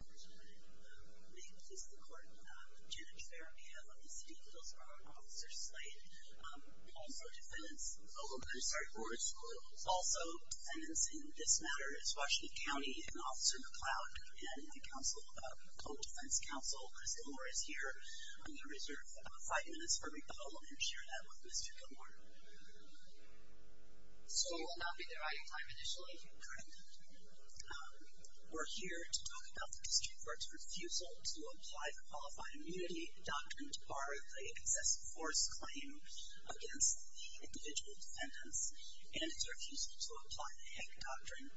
Maintenance of the Court, Janet Ferriero of the City of Hillsborough and Officer Slade. Also defendants, a little bit of a start for us. Also defendants in this matter is Washington County and Officer McLeod. And the Council of the Public Defense Council, Crystal Moore is here. I'm going to reserve five minutes for rebuttal and share that with Mr. Gilmour. So you will not be there on your time initially? Correct. We're here to talk about the District Court's refusal to apply the Qualified Immunity Doctrine to bar the excessive force claim against the individual defendants. And it's refusal to apply the Hague Doctrine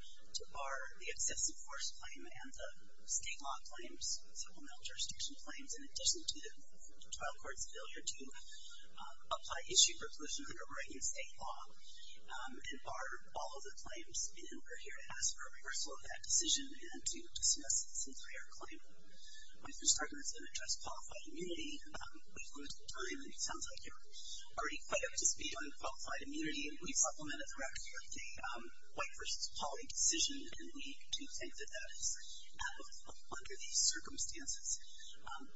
to bar the excessive force claim and the state law claims, civil mental jurisdiction claims, in addition to the trial court's failure to apply issue preclusion under Oregon state law, and bar all of the claims. And we're here to ask for a reversal of that decision and to dismiss this entire claim. Mr. Starkman is going to address Qualified Immunity. We've limited time and it sounds like you're already quite up to speed on Qualified Immunity. And we've supplemented the record with a white versus poly decision, and we do think that that is out of under these circumstances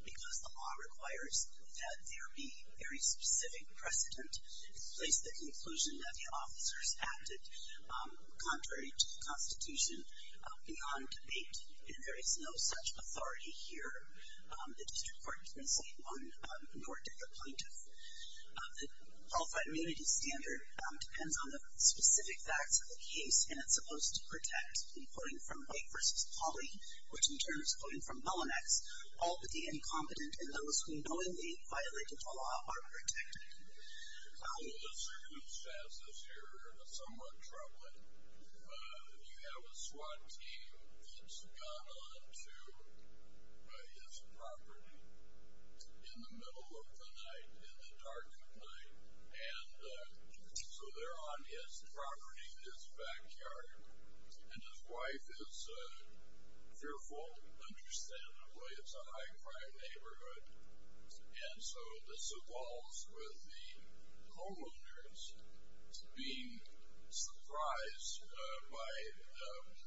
because the law requires that there be very specific precedent to place the conclusion that the officers acted contrary to the Constitution beyond debate. And there is no such authority here. The District Court can say one nor did the plaintiff. The Qualified Immunity standard depends on the specific facts of the case, and it's supposed to protect in quoting from white versus poly, which in turn is quoting from Melonex, all but the incompetent and those who knowingly violated the law are protected. Well, the circumstances here are somewhat troubling. You have a SWAT team that's gone on to his property in the middle of the night, in the dark of night, and so they're on his property, his backyard, and his wife is fearful, understandably. It's a high-crime neighborhood. And so this evolves with the homeowners being surprised by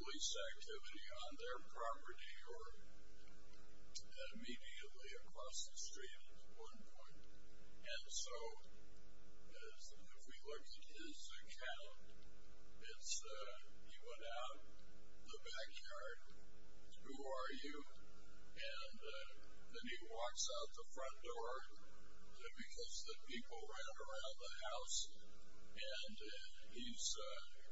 police activity on their property or immediately across the street at one point. And so if we look at his account, it's he went out the backyard. Who are you? And then he walks out the front door because the people ran around the house, and he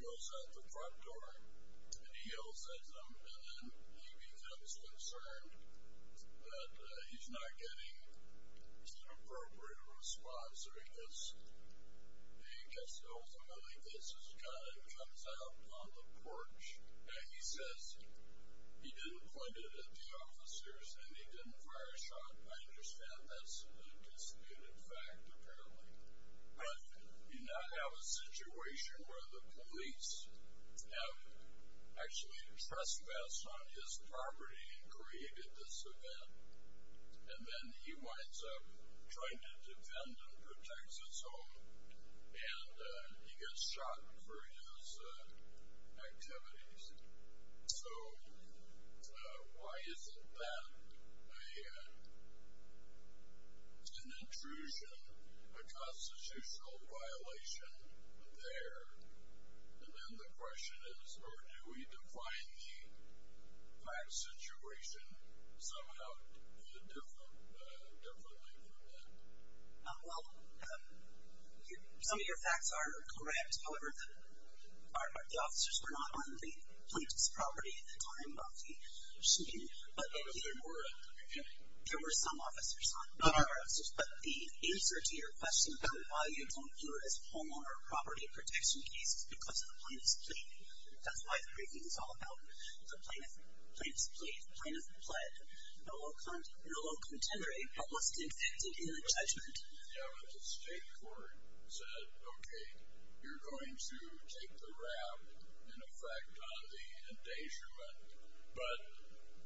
goes out the front door and he yells at them, and then he becomes concerned that he's not getting an appropriate response, or he gets ultimately gets his gun and comes out on the porch, and he says he didn't point it at the officers and he didn't fire a shot. I understand that's a disputed fact, apparently. But you now have a situation where the police have actually trespassed on his property and created this event, and then he winds up trying to defend and protect his home, and he gets shot for his activities. So why isn't that an intrusion, a constitutional violation there? And then the question is, or do we define the fact situation somehow differently from that? Well, some of your facts are correct. However, the officers were not on the plaintiff's property at the time of the shooting. There were some officers on. But the answer to your question about why you don't view it as a homeowner property protection case is because of the plaintiff's plea. That's why the briefing is all about the plaintiff's plea. The plaintiff pled no low contender, but was convicted in the judgment. The state court said, okay, you're going to take the rap, in effect, on the endangerment. But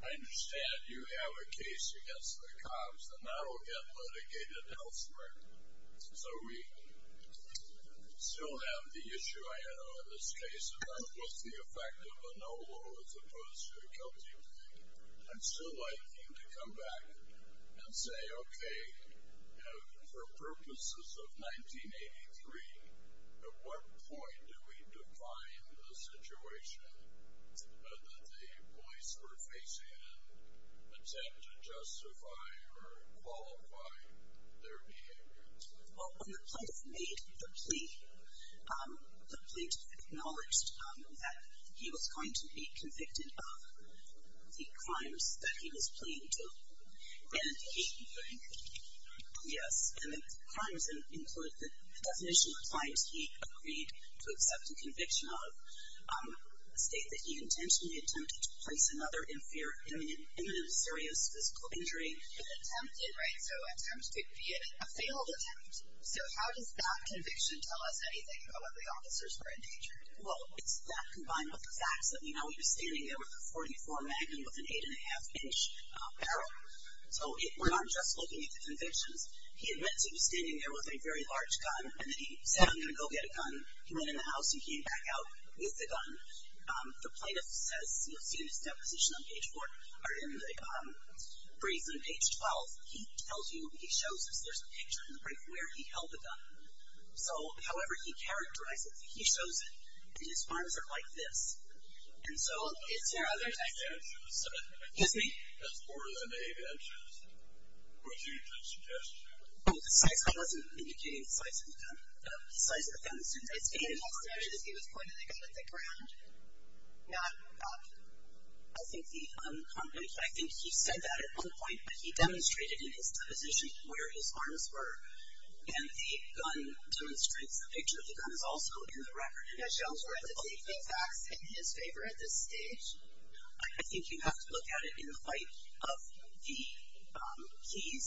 I understand you have a case against the cops, and that will get litigated elsewhere. So we still have the issue, I know, in this case about what's the effect of a no low as opposed to a guilty plea. I'd still like you to come back and say, okay, for purposes of 1983, at what point do we define the situation that the police were facing and attempt to justify or qualify their behavior? Well, when the plaintiff made the plea, the plaintiff acknowledged that he was going to be convicted of the crimes that he was pleading to. And he, yes, and the crimes include the definition of crimes he agreed to accept a conviction of, a state that he intentionally attempted to place another in fear of imminent serious physical injury. Attempted, right, so attempted to be a failed attempt. So how does that conviction tell us anything about what the officers were endangered? Well, it's that combined with the facts that we know. He was standing there with a .44 magnum with an 8 1⁄2 inch barrel. So it went on just looking at the convictions. He admits he was standing there with a very large gun, and then he said, I'm going to go get a gun. He went in the house and came back out with the gun. The plaintiff says, you'll see in his deposition on page 4, or in the brazen page 12, he tells you, he shows us, there's a picture in the brief where he held the gun. So however he characterizes it, he shows it, and his arms are like this. And so it's there other times. Excuse me? That's more than 8 inches. What's your suggestion? Oh, the size. I wasn't indicating the size of the gun. The size of the gun. It's 8 inches. He was pointing the gun at the ground, not up. I think he said that at one point, but he demonstrated in his deposition where his arms were, and the gun demonstrates, the picture of the gun is also in the record. And that shows where the bullet went. Does he think that's in his favor at this stage? I think you have to look at it in the light of the keys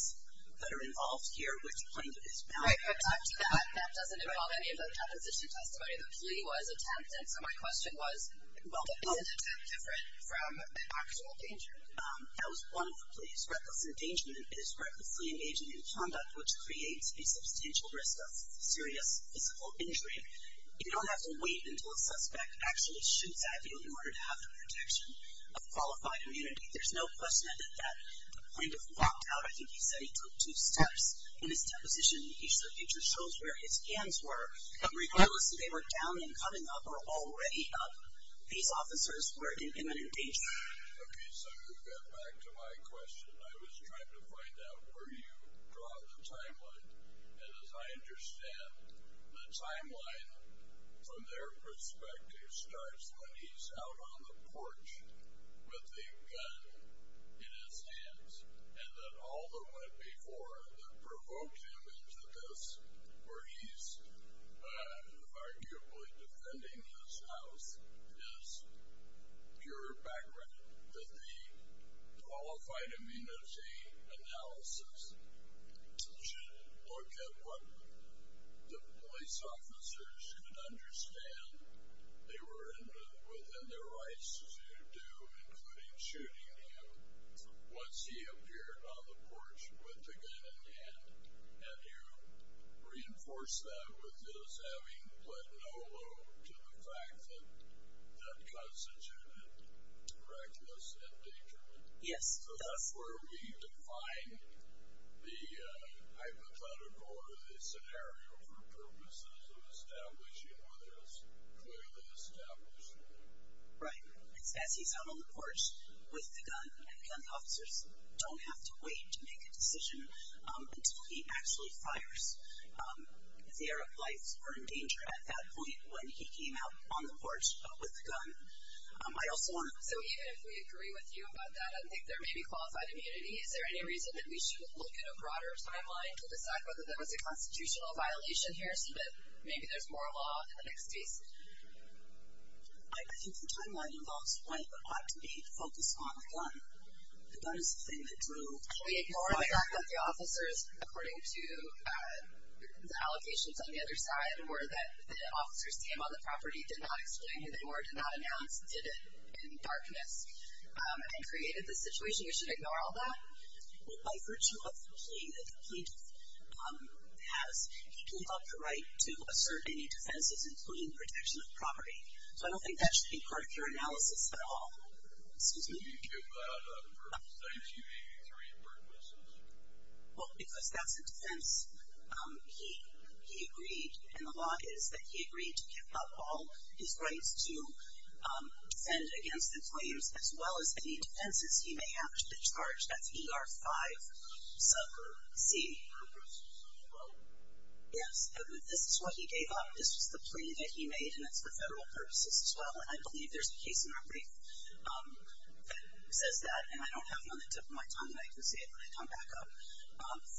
that are involved here, which the plaintiff is mounting. Right, but after that, that doesn't involve any of the deposition testimony. The plea was attempt, and so my question was, is an attempt different from actual danger? That was one of the pleas. It is reckless endangerment. It is recklessly engaging in conduct which creates a substantial risk of serious physical injury. You don't have to wait until a suspect actually shoots at you in order to have the protection of qualified immunity. There's no question that the plaintiff walked out. I think he said he took two steps. In his deposition, each of the pictures shows where his hands were. Regardless if they were down and coming up or already up, these officers were in imminent danger. Okay, so you got back to my question. I was trying to find out where you draw the timeline. And as I understand, the timeline from their perspective starts when he's out on the porch with a gun in his hands and that all that went before that provoked him into this where he's arguably defending his house is pure background. That the qualified immunity analysis should look at what the police officers could understand. They were within their rights to do, including shooting him. Once he appeared on the porch with the gun in hand, have you reinforced that with this having put no load to the fact that that constituted reckless endangerment? Yes. So that's where we define the hypothetical or the scenario for purposes of establishing whether it's clearly established or not. Right. As he's out on the porch with the gun, the gun officers don't have to wait to make a decision until he actually fires. Their lives were in danger at that point when he came out on the porch with the gun. So even if we agree with you about that, I think there may be qualified immunity. Is there any reason that we should look at a broader timeline to decide whether there was a constitutional violation here so that maybe there's more law in the next case? I think the timeline involves what ought to be focused on the gun. The gun is the thing that drew the fire. We ignore the fact that the officers, according to the allegations on the other side, were that the officer's name on the property did not explain it or did not announce it in darkness and created the situation. You should ignore all that? Well, by virtue of the plea that the plaintiff has, he can have the right to assert any defenses, including protection of property. So I don't think that should be part of your analysis at all. Excuse me? Can you give that up for statute 83 purposes? Well, because that's a defense he agreed, and the law is that he agreed to give up all his rights to defend against the claims as well as any defenses he may have to the charge. That's ER5 subgroup C. Yes, this is what he gave up. This was the plea that he made, and it's for federal purposes as well. And I believe there's a case in our brief that says that, and I don't have it on the tip of my tongue, and I can say it when I come back up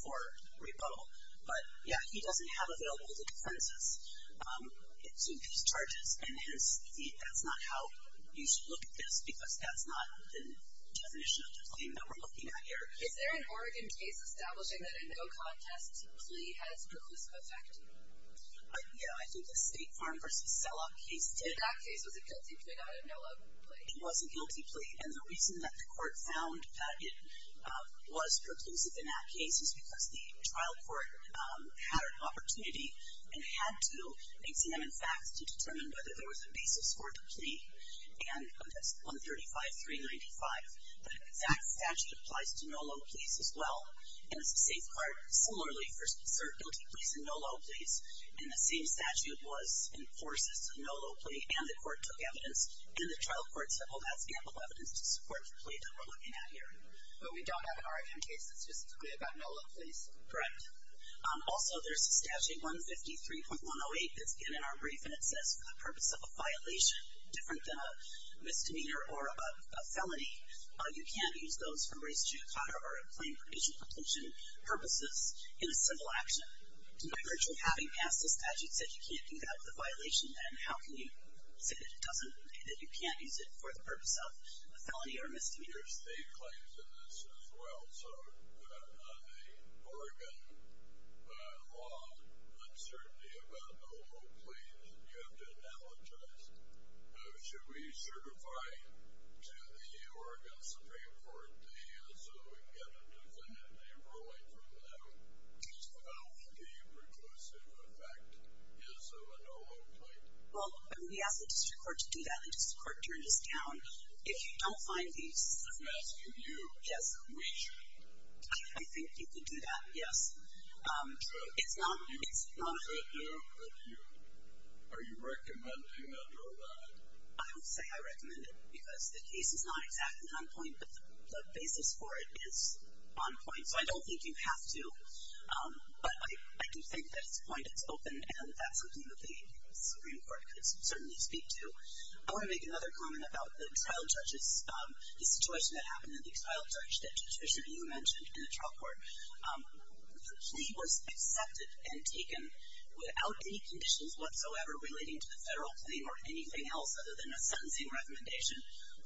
for rebuttal. But, yeah, he doesn't have available defenses to these charges, and hence that's not how you should look at this because that's not the definition of the claim that we're looking at here. Is there an Oregon case establishing that a no contest plea has perclusive effect? Yeah, I think the State Farm v. Selloff case did. That case was a guilty plea, not a no love plea. It was a guilty plea, and the reason that the court found that it was perclusive in that case is because the trial court had an opportunity and had to examine facts to determine whether there was a basis for the plea. And that's 135.395. The exact statute applies to no love pleas as well, and it's a safeguard similarly for served guilty pleas and no love pleas. And the same statute was in force as to no love plea, and the court took evidence, and the trial court said, well, that's ample evidence to support the plea that we're looking at here. But we don't have an Oregon case that's specifically about no love pleas. Correct. Also, there's a statute, 153.108, that's in our brief, and it says for the purpose of a violation different than a misdemeanor or a felony, you can't use those from race, gender, color, or a plain provision for detention purposes in a civil action. In other words, you're having passed a statute that says you can't do that with a violation, and how can you say that you can't use it for the purpose of a felony or misdemeanor? There are state claims in this as well. So on the Oregon law, uncertainty about no love pleas, you have to analogize. Should we certify to the Oregon Supreme Court so we can get a definitive ruling from them about what the preclusive effect is of a no love plea? Well, we ask the district court to do that. The district court turned us down. If you don't find these. I'm asking you. Yes. We should. I think you could do that, yes. So it's not a no love plea. Are you recommending a no love? I would say I recommend it because the case is not exactly on point, but the basis for it is on point. So I don't think you have to, but I do think that it's a point that's open, and that's something that the Supreme Court could certainly speak to. I want to make another comment about the trial judges. The situation that happened in the trial judge that you mentioned in the trial court, the plea was accepted and taken without any conditions whatsoever relating to the federal claim or anything else other than a sentencing recommendation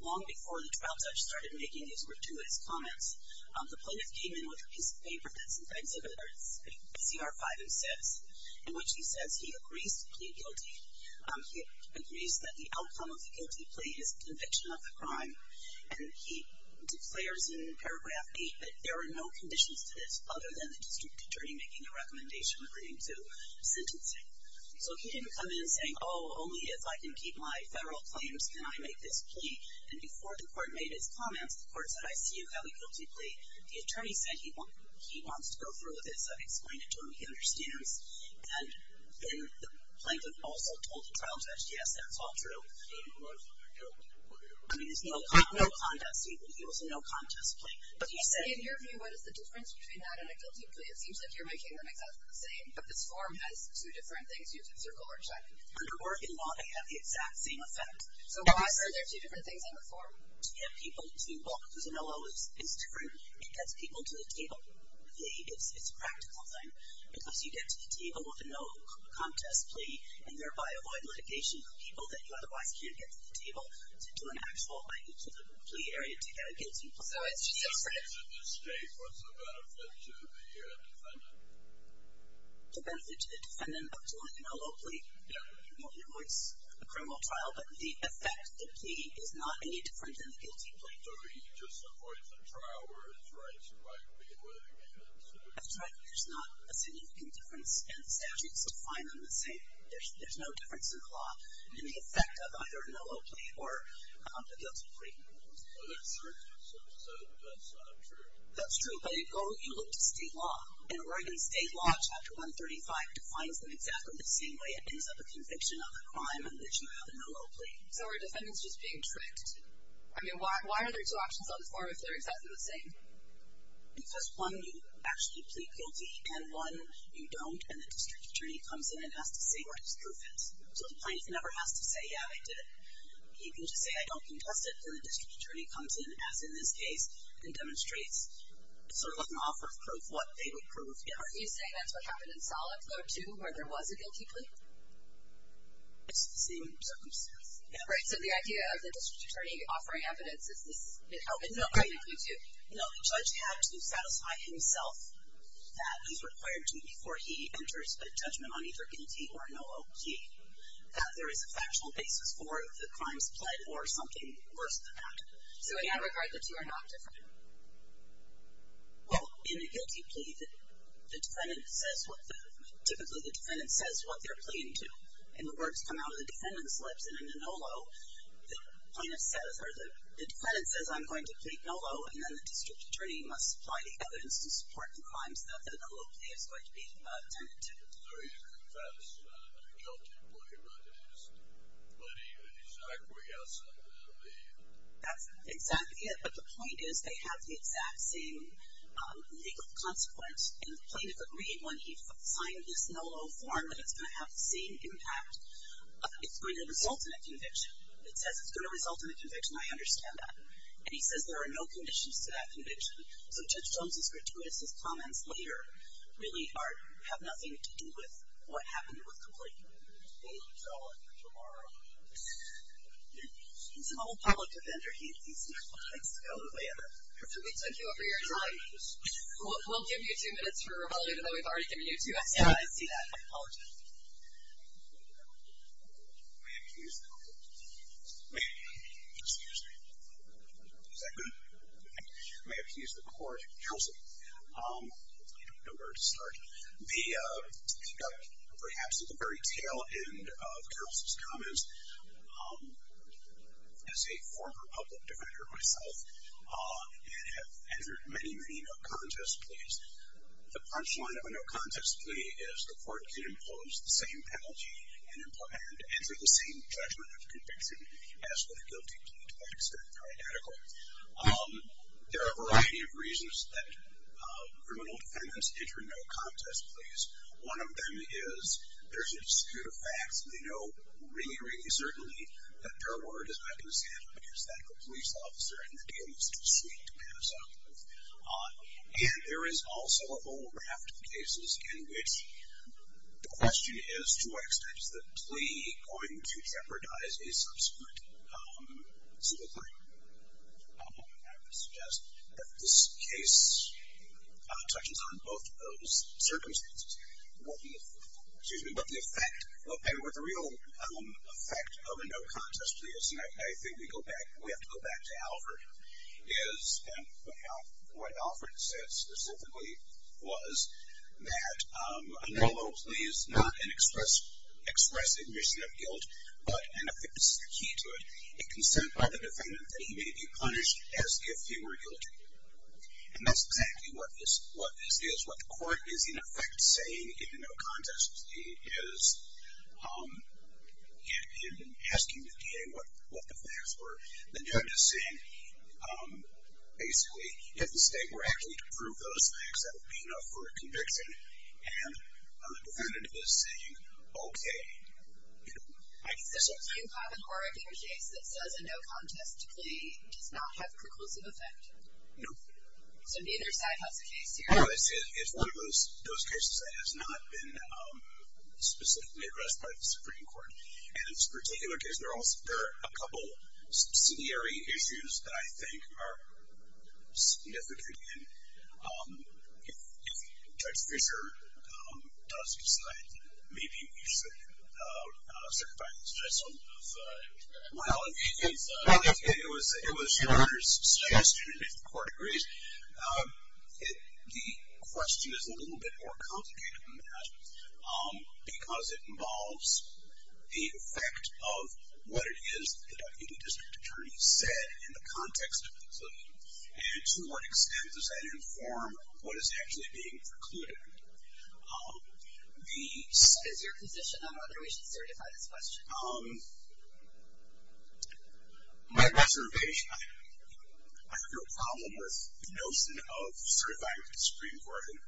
long before the trial judge started making these gratuitous comments. The plaintiff came in with a piece of paper that's an exhibit, it's CR 5 and 6, in which he says he agrees to plead guilty. He agrees that the outcome of the guilty plea is conviction of the crime, and he declares in paragraph 8 that there are no conditions to this other than the district attorney making a recommendation agreeing to sentencing. So he didn't come in saying, oh, only if I can keep my federal claims can I make this plea. And before the court made its comments, the court said, I see you have a guilty plea. The attorney said he wants to go through with this. I explained it to him. He understands. And then the plaintiff also told the trial judge, yes, that's all true. I mean, it's no contest. He was a no-contest plea. But he said. In your view, what is the difference between that and a guilty plea? It seems like you're making them exactly the same, but this form has two different things. You have to circle or check. Under Oregon law, they have the exact same effect. So why are there two different things on the form? To get people to look. It's true. It gets people to the table. It's a practical thing. Because you get to the table with a no-contest plea, and thereby avoid litigation for people that you otherwise can't get to the table to do an actual plea area to get a guilty plea. So it's just different. In this case, what's the benefit to the defendant? The benefit to the defendant of doing a low plea? Yeah. Well, you know, it's a criminal trial, but the effect of the plea is not any different than the guilty plea. So he just avoids a trial where his rights might be litigation. That's right. There's not a significant difference, and the statutes define them the same. There's no difference in the law in the effect of either a no-low plea or a guilty plea. Oh, that's true. So that's not true. That's true, but you look to state law, and Oregon state law chapter 135 defines them exactly the same way. It ends up a conviction of a crime in which you have a no-low plea. So are defendants just being tricked? I mean, why are there two options on this form if they're exactly the same? Because, one, you actually plead guilty, and, one, you don't, and the district attorney comes in and has to say where his proof is. So the plaintiff never has to say, yeah, I did it. He can just say, I don't contest it, and the district attorney comes in, as in this case, and demonstrates sort of an offer of proof, what they would prove. Yeah. Are you saying that's what happened in Solid Code, too, where there was a guilty plea? It's the same circumstance. Right. So the idea of the district attorney offering evidence, is this helping the plaintiff, too? You know, the judge had to satisfy himself that he's required to before he enters a judgment on either a guilty or a no-low plea, that there is a factual basis for the crime's plead or something worse than that. So, again, regardless, you are not different? Well, in a guilty plea, the defendant says what the, typically the defendant says what they're pleading to, and the words come out of the defendant's lips, and in a no-low, the plaintiff says, or the defendant says, I'm going to plead no-low, and then the district attorney must supply the evidence to support the crimes that a no-low plea is going to be tended to. So you confess in a guilty plea rather than just pleading an exact way outside of the plea? That's exactly it. But the point is they have the exact same legal consequence, and the plaintiff agreed when he signed this no-low form that it's going to have the same impact. It's going to result in a conviction. It says it's going to result in a conviction. I understand that. And he says there are no conditions to that conviction. So Judge Jones' gratuitous comments later really are, have nothing to do with what happened with complaint. So tomorrow. He's an old public defender. He's not going to go away ever. We took you over your time. We'll give you two minutes for rebuttal, even though we've already given you two minutes. Yeah, I see that. I apologize. I may have to use the court. Excuse me. Is that good? I may have to use the court. Counsel, I don't know where to start. Perhaps at the very tail end of Counsel's comments, as a former public defender myself, and have entered many, many no-contest pleas, the punchline of a no-contest plea is the court can impose the same penalty and enter the same judgment of conviction as with a guilty plea, to the extent that they're adequate. There are a variety of reasons that criminal defendants enter no-contest pleas. One of them is there's a dispute of facts, and they know really, really certainly that their word is not going to stand up against that of a police officer, and the deal is too sweet to pass up. And there is also a whole raft of cases in which the question is, to what extent is the plea going to jeopardize a subsequent civil claim? I would suggest that this case touches on both of those circumstances. What the effect of a real effect of a no-contest plea is, and I think we have to go back to Alford, is what Alford said specifically was that a no-no plea is not an express admission of guilt, but, and I think this is the key to it, a consent by the defendant that he may be punished as if he were guilty. And that's exactly what this is. What the court is, in effect, saying in a no-contest plea is, in asking the DA what the facts were, the judge is saying, basically, if the state were actually to prove those facts, that would be enough for a conviction. And the defendant is saying, okay, you know, I can say something. Is there a few common or a bigger case that says a no-contest plea does not have a preclusive effect? No. So neither side has a case here? No. It's one of those cases that has not been specifically addressed by the Supreme Court. And in this particular case, there are a couple subsidiary issues that I think are significant. If Judge Fischer does decide, maybe, you should certify this judgment of liability, it was your honor's suggestion, if the court agrees. The question is a little bit more complicated than that because it involves the effect of what it is the deputy district attorney said in the context of the facility. And to what extent does that inform what is actually being precluded? Is your position on whether we should certify this question? My best interpretation, I have no problem with the notion of certifying the Supreme Court and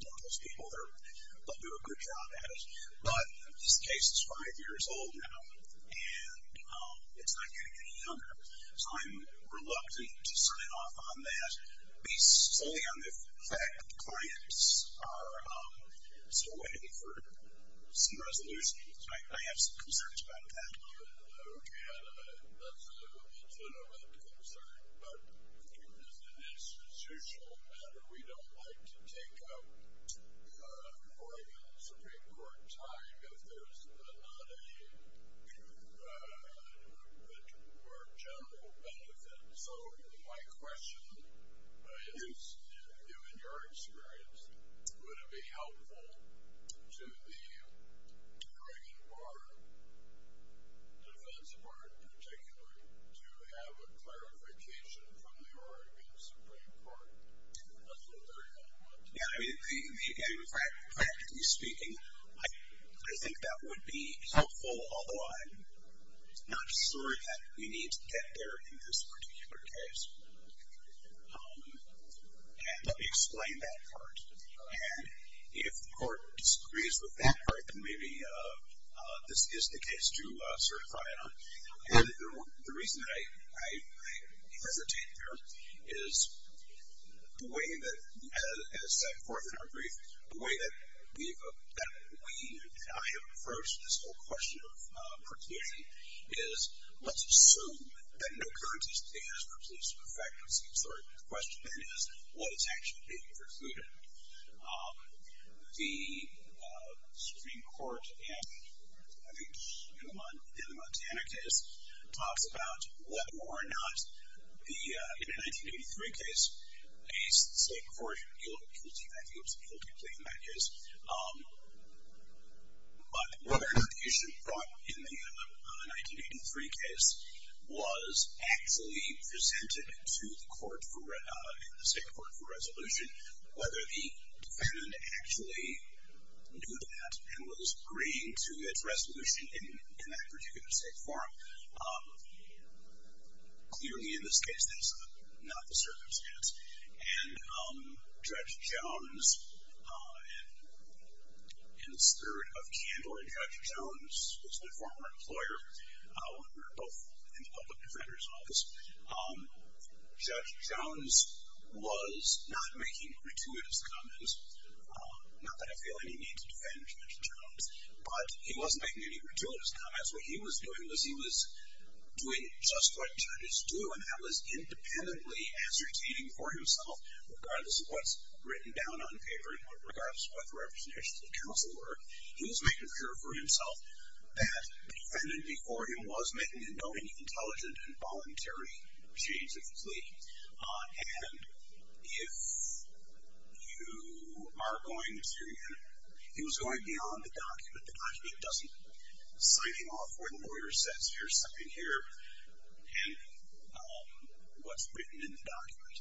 all those people that do a good job at it. But this case is five years old now, and it's not going to get any younger. So I'm reluctant to sign off on that, based solely on the fact that the clients are still waiting for some resolution. I have some concerns about that. Okay. And that's a legitimate concern. But as an institutional matter, we don't like to take up court and Supreme Court time if there's not a more general benefit. So my question is, given your experience, would it be helpful to the Oregon Bar, the defense bar in particular, to have a clarification from the Oregon Supreme Court? That's a very helpful question. Yeah, I mean, practically speaking, I think that would be helpful, although I'm not sure that we need to get there in this particular case. And let me explain that part. And if the court disagrees with that part, then maybe this is the case to certify it on. And the reason that I hesitate there is the way that, as set forth in our brief, the way that we and I have approached this whole question of perpetuity is let's assume that no currency stands for police perfections. The question then is, what is actually being precluded? The Supreme Court in the Montana case talks about whether or not in the 1983 case, a state court guilty, I think it was a guilty plea in that case, but whether or not the issue brought in the 1983 case was actually presented to the state court for resolution, whether the defendant actually knew that and was agreeing to its resolution in that particular state forum. Clearly, in this case, that's not the circumstance. And Judge Jones, in this third of candle, when Judge Jones was my former employer, when we were both in the public defender's office, Judge Jones was not making gratuitous comments. Not that I feel any need to defend Judge Jones, but he wasn't making any gratuitous comments. What he was doing was he was doing just what judges do, and that was independently ascertaining for himself, regardless of what's written down on paper and regardless of what the representations of counsel were. He was making sure for himself that the defendant before him was making a knowing, intelligent, and voluntary change of plea. And if you are going to hear him, he was going beyond the document. The document doesn't sign him off where the lawyer says, here's something here and what's written in the document.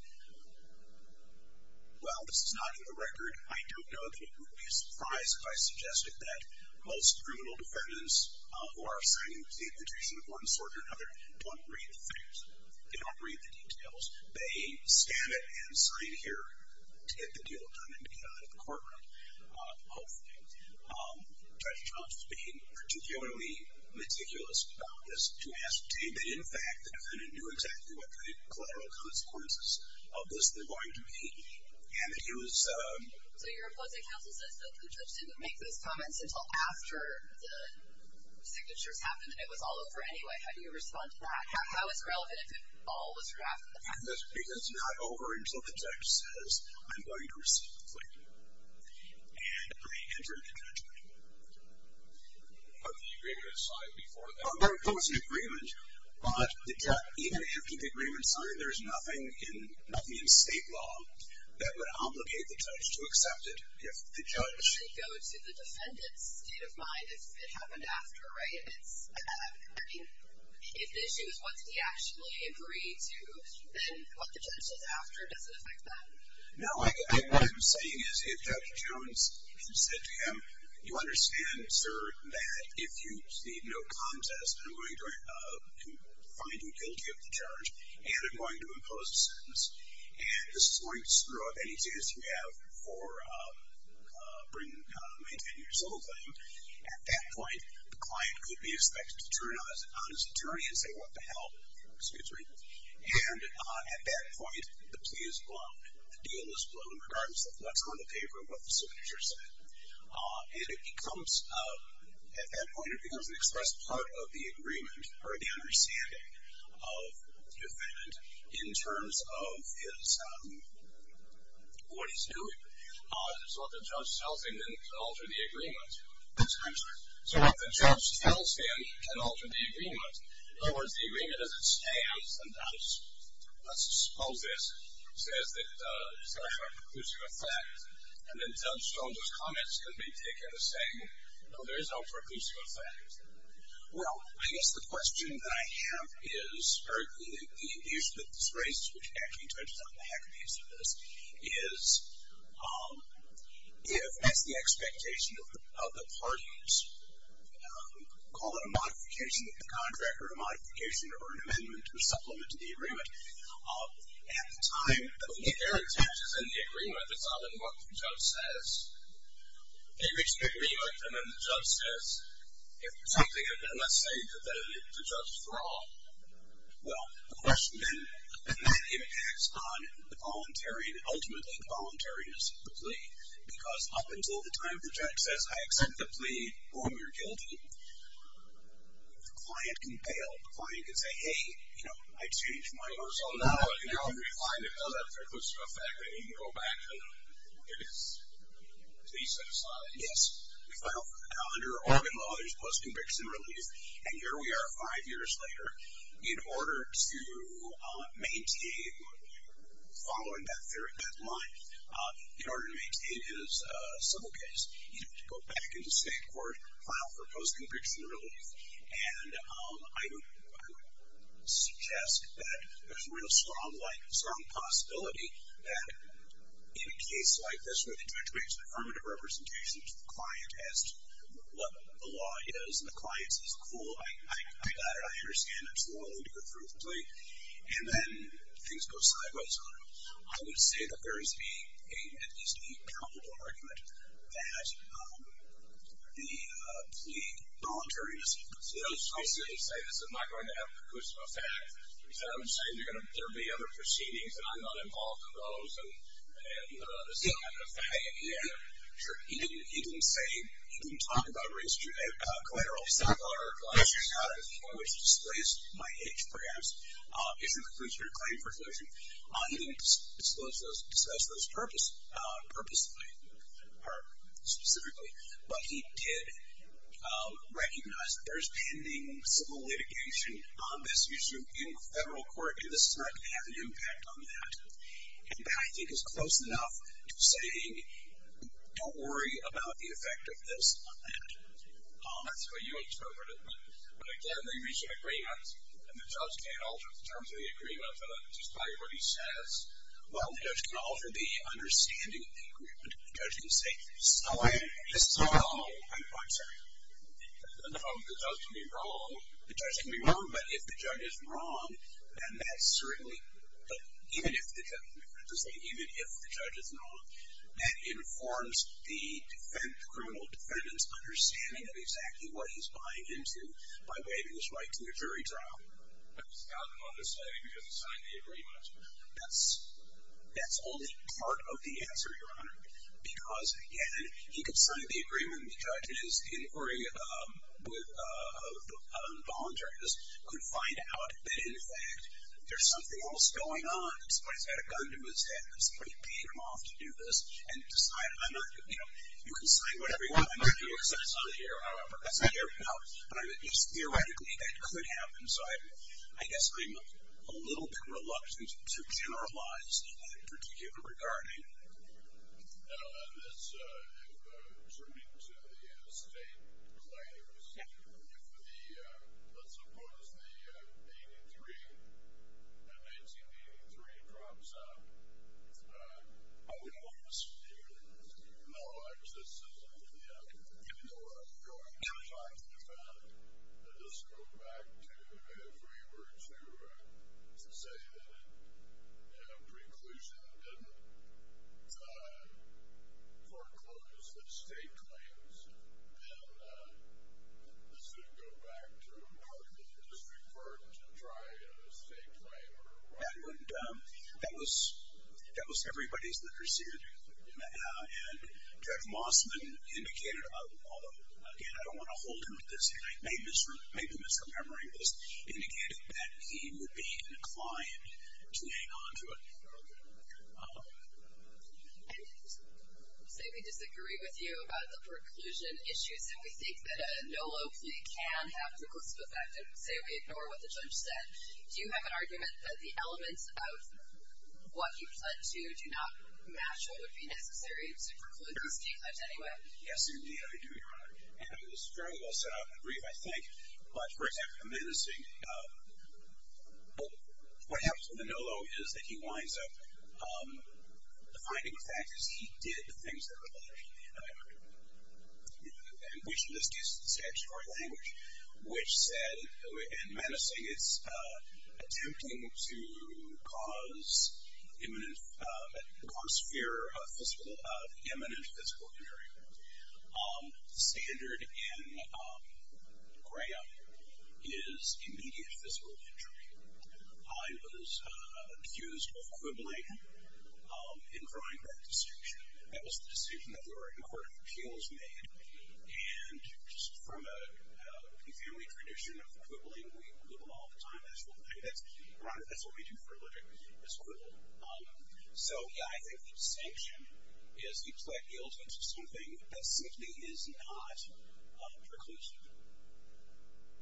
Well, this is not in the record. I don't know that it would be a surprise if I suggested that most criminal defendants who are signing the petition of one sort or another don't read the facts. They don't read the details. They scan it and sign it here to get the deal done and to get out of the courtroom, hopefully. Judge Jones was being particularly meticulous about this to ascertain that, in fact, the defendant knew exactly what the collateral consequences of this were going to be and that he was... So your opposing counsel says, the judge didn't make those comments until after the signatures happened and it was all over anyway. How do you respond to that? How is it relevant if it all was drafted in the past? Because it's not over until the judge says, I'm going to receive the plea and I enter into judgment. But the agreement is signed before that. There was an agreement, but even after the agreement is signed, there's nothing in state law that would obligate the judge to accept it if the judge... Does it go to the defendant's state of mind if it happened after, right? If the issue is what did he actually agree to, then what the judge does after doesn't affect that. No, what I'm saying is if Judge Jones said to him, you understand, sir, that if you plead no contest, I'm going to find you guilty of the charge and I'm going to impose a sentence, and this is going to screw up any chance you have for maintaining your civil claim, at that point, the client could be expected to turn on his attorney and say, what the hell? Excuse me. And at that point, the plea is blown. The deal is blown regardless of what's on the paper and what the signature said. And it becomes, at that point, it becomes an express part of the agreement or the understanding of the defendant in terms of what he's doing. So what the judge tells him can alter the agreement. I'm sorry. So what the judge tells him can alter the agreement. In other words, the agreement as it stands, and that's, let's suppose this, says that it's got a preclusive effect, and then Judge Jones' comments can be taken as saying, no, there is no preclusive effect. Well, I guess the question that I have is, or the issue that's raised, which actually touches on the heck of the issue of this, is if, as the expectation of the parties, call it a modification of the contract or a modification or an amendment or supplement to the agreement, at the time that there are changes in the agreement, it's not in what the judge says. You expect me, like, and then the judge says, if something, and let's say that the judge is wrong, well, the question then, and that impacts on the voluntary, ultimately the voluntariness of the plea, because up until the time the judge says, I accept the plea or I'm your guilty, the client can bail. The client can say, hey, you know, I changed my words on that one, and now I'm going to be fine It does have preclusive effect. I mean, you go back and it is, so you set aside. Yes. We file for the calendar, organ law, there's post-conviction relief, and here we are five years later, in order to maintain, following that line, in order to maintain his civil case, he'd have to go back into state court, file for post-conviction relief, and I would suggest that there's a real strong possibility that in a case like this, where the judge makes an affirmative representation to the client as to what the law is, and the client says, cool, I got it, I understand, I'm still willing to go through with the plea, and then things go sideways on him. I would say that there is a, at least a palpable argument, that the plea voluntarily does have preclusive effect. I was going to say this, I'm not going to have preclusive effect. Instead, I'm going to say there are going to be other proceedings, and I'm not involved in those, and this is not going to affect me. Yeah, sure. He didn't say, he didn't talk about collateral. He said, I got it at a point which displaced my itch, perhaps, issued a preclusive claim for exclusion. He didn't discuss those purposefully, or specifically, but he did recognize that there's pending civil litigation on this issue in federal court, and this is not going to have an impact on that. And that, I think, is close enough to saying, don't worry about the effect of this on that. That's what you interpreted, but, again, they reached an agreement, and the judge can't alter the terms of the agreement just by what he says. Well, the judge can alter the understanding of the agreement. The judge can say, so this is all wrong. I'm sorry. The judge can be wrong. The judge can be wrong, but if the judge is wrong, then that certainly, even if the judge is wrong, that informs the criminal defendant's understanding of exactly what he's buying into by waiving his right to the jury trial. I just got him on this lady because he signed the agreement. That's only part of the answer, Your Honor, because, again, he could sign the agreement, and the judge in his inquiry with the voluntariness could find out that, in fact, there's something else going on. Somebody's got a gun to his head, and somebody paid him off to do this, and decided, I'm not going to do it. You can sign whatever you want. I'm not going to do it. It's not here, however. That's not here. No. Your Honor, just theoretically, that could happen, so I guess I'm a little bit reluctant to generalize in that particular regard. Now, in this, if, turning to the state claims, if the, let's suppose, the 1983, the 1983 drops out, how would all of us feel? How would all of us feel? Well, I guess this isn't the end. We don't know what's going to happen. If this goes back to if we were to say that, in preclusion, that didn't foreclose the state claims, then this would go back to how could the district court try a state claim or what? That was everybody's literacy. And Judge Mossman indicated, although, again, I don't want to hold him at this, and I may be misremembering this, indicated that he would be inclined to hang on to it. Say we disagree with you about the preclusion issues, and we think that a no low plea can have preclusive effect, and say we ignore what the judge said. Do you have an argument that the elements of what he pled to do not match what would be necessary to preclude these state claims anyway? Yes, indeed, I do, Your Honor. And it was very well set out in the brief, I think. But, for example, the menacing, what happens with the no low is that he winds up, the finding of fact is he did the things that were alleged, and we should just use the statutory language, which said in menacing, it's attempting to cause fear of imminent physical injury. The standard in Graham is immediate physical injury. I was accused of quibbling in drawing that distinction. That was the decision that the Oregon Court of Appeals made, and just from a family tradition of quibbling, we quibble all the time, that's what we do for a living, is quibble. So, yeah, I think the distinction is he pled guilty to something that simply is not preclusive.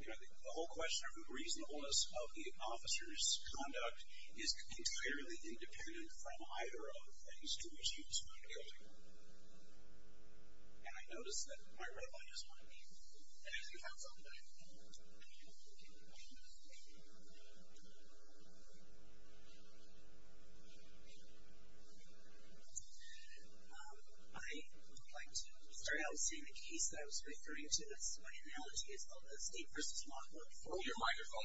You know, the whole question of the reasonableness of the officer's conduct is entirely independent from either of the things to which he was found guilty. And I noticed that my red light is on. Anything else on that? I would like to start out saying the case that I was referring to, that's my analogy, is called the state versus law court. Oh, your microphone.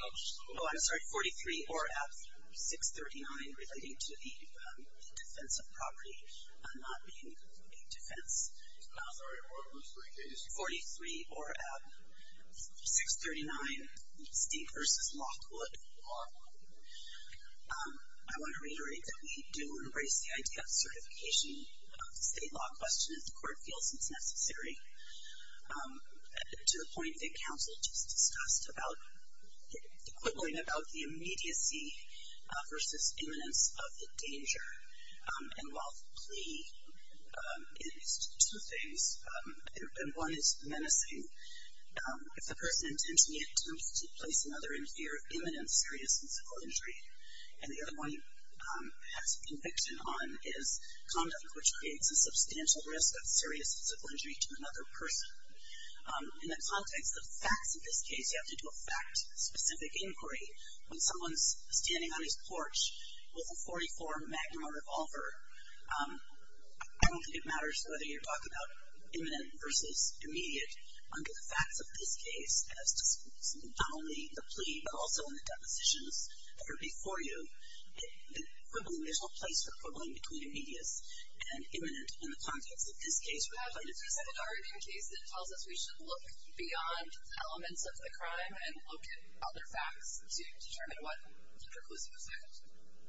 Oh, I'm sorry, 43 ORF 639, relating to the defense of property, not being a defense. I'm sorry, what was the case? 43 ORF 639, state versus law court. Law court. I want to reiterate that we do embrace the idea of certification of the state law question if the court feels it's necessary, to the point that counsel just discussed about the immediacy versus imminence of the danger. And while plea is two things, and one is menacing, if the person intends to place another in fear of imminence, serious and simple injury, and the other one has conviction on, is conduct which creates a substantial risk of serious and simple injury to another person. In the context of facts in this case, you have to do a fact-specific inquiry. When someone's standing on his porch with a .44 Magnum revolver, I don't think it matters whether you're talking about imminent versus immediate. Under the facts of this case, not only the plea, but also in the depositions that are before you, there's no place for quibbling between immediate and imminent in the context of this case. We have a case that tells us we should look beyond the elements of the crime and look at other facts to determine what the preclusive effect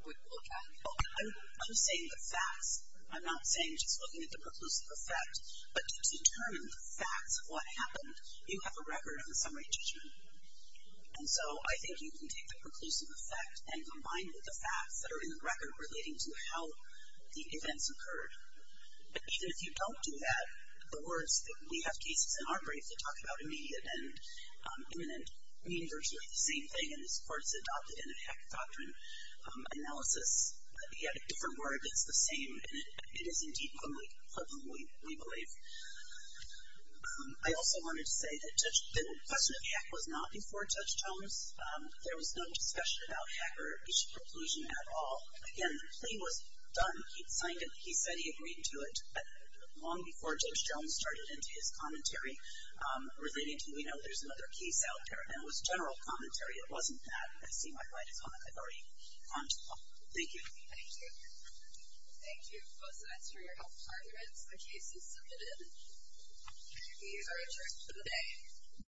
would look like. I'm saying the facts. I'm not saying just looking at the preclusive effect. But to determine the facts of what happened, you have a record of the summary judgment. And so I think you can take the preclusive effect and combine it with the facts that are in the record relating to how the events occurred. But even if you don't do that, the words that we have cases in our brief that talk about immediate and imminent mean virtually the same thing. And this court's adopted in a hack doctrine analysis. Yet a different word that's the same. And it is indeed quibbling, we believe. I also wanted to say that the question of hack was not before Judge Jones. There was no discussion about hack or issue preclusion at all. Again, the plea was done. He signed it. He said he agreed to it. But long before Judge Jones started into his commentary, relating to, you know, there's another case out there. And it was general commentary. It wasn't that. I see my right is on it. I've already commented on it. Thank you. Thank you. Thank you both of us for your help. The case is submitted. You are adjourned for the day.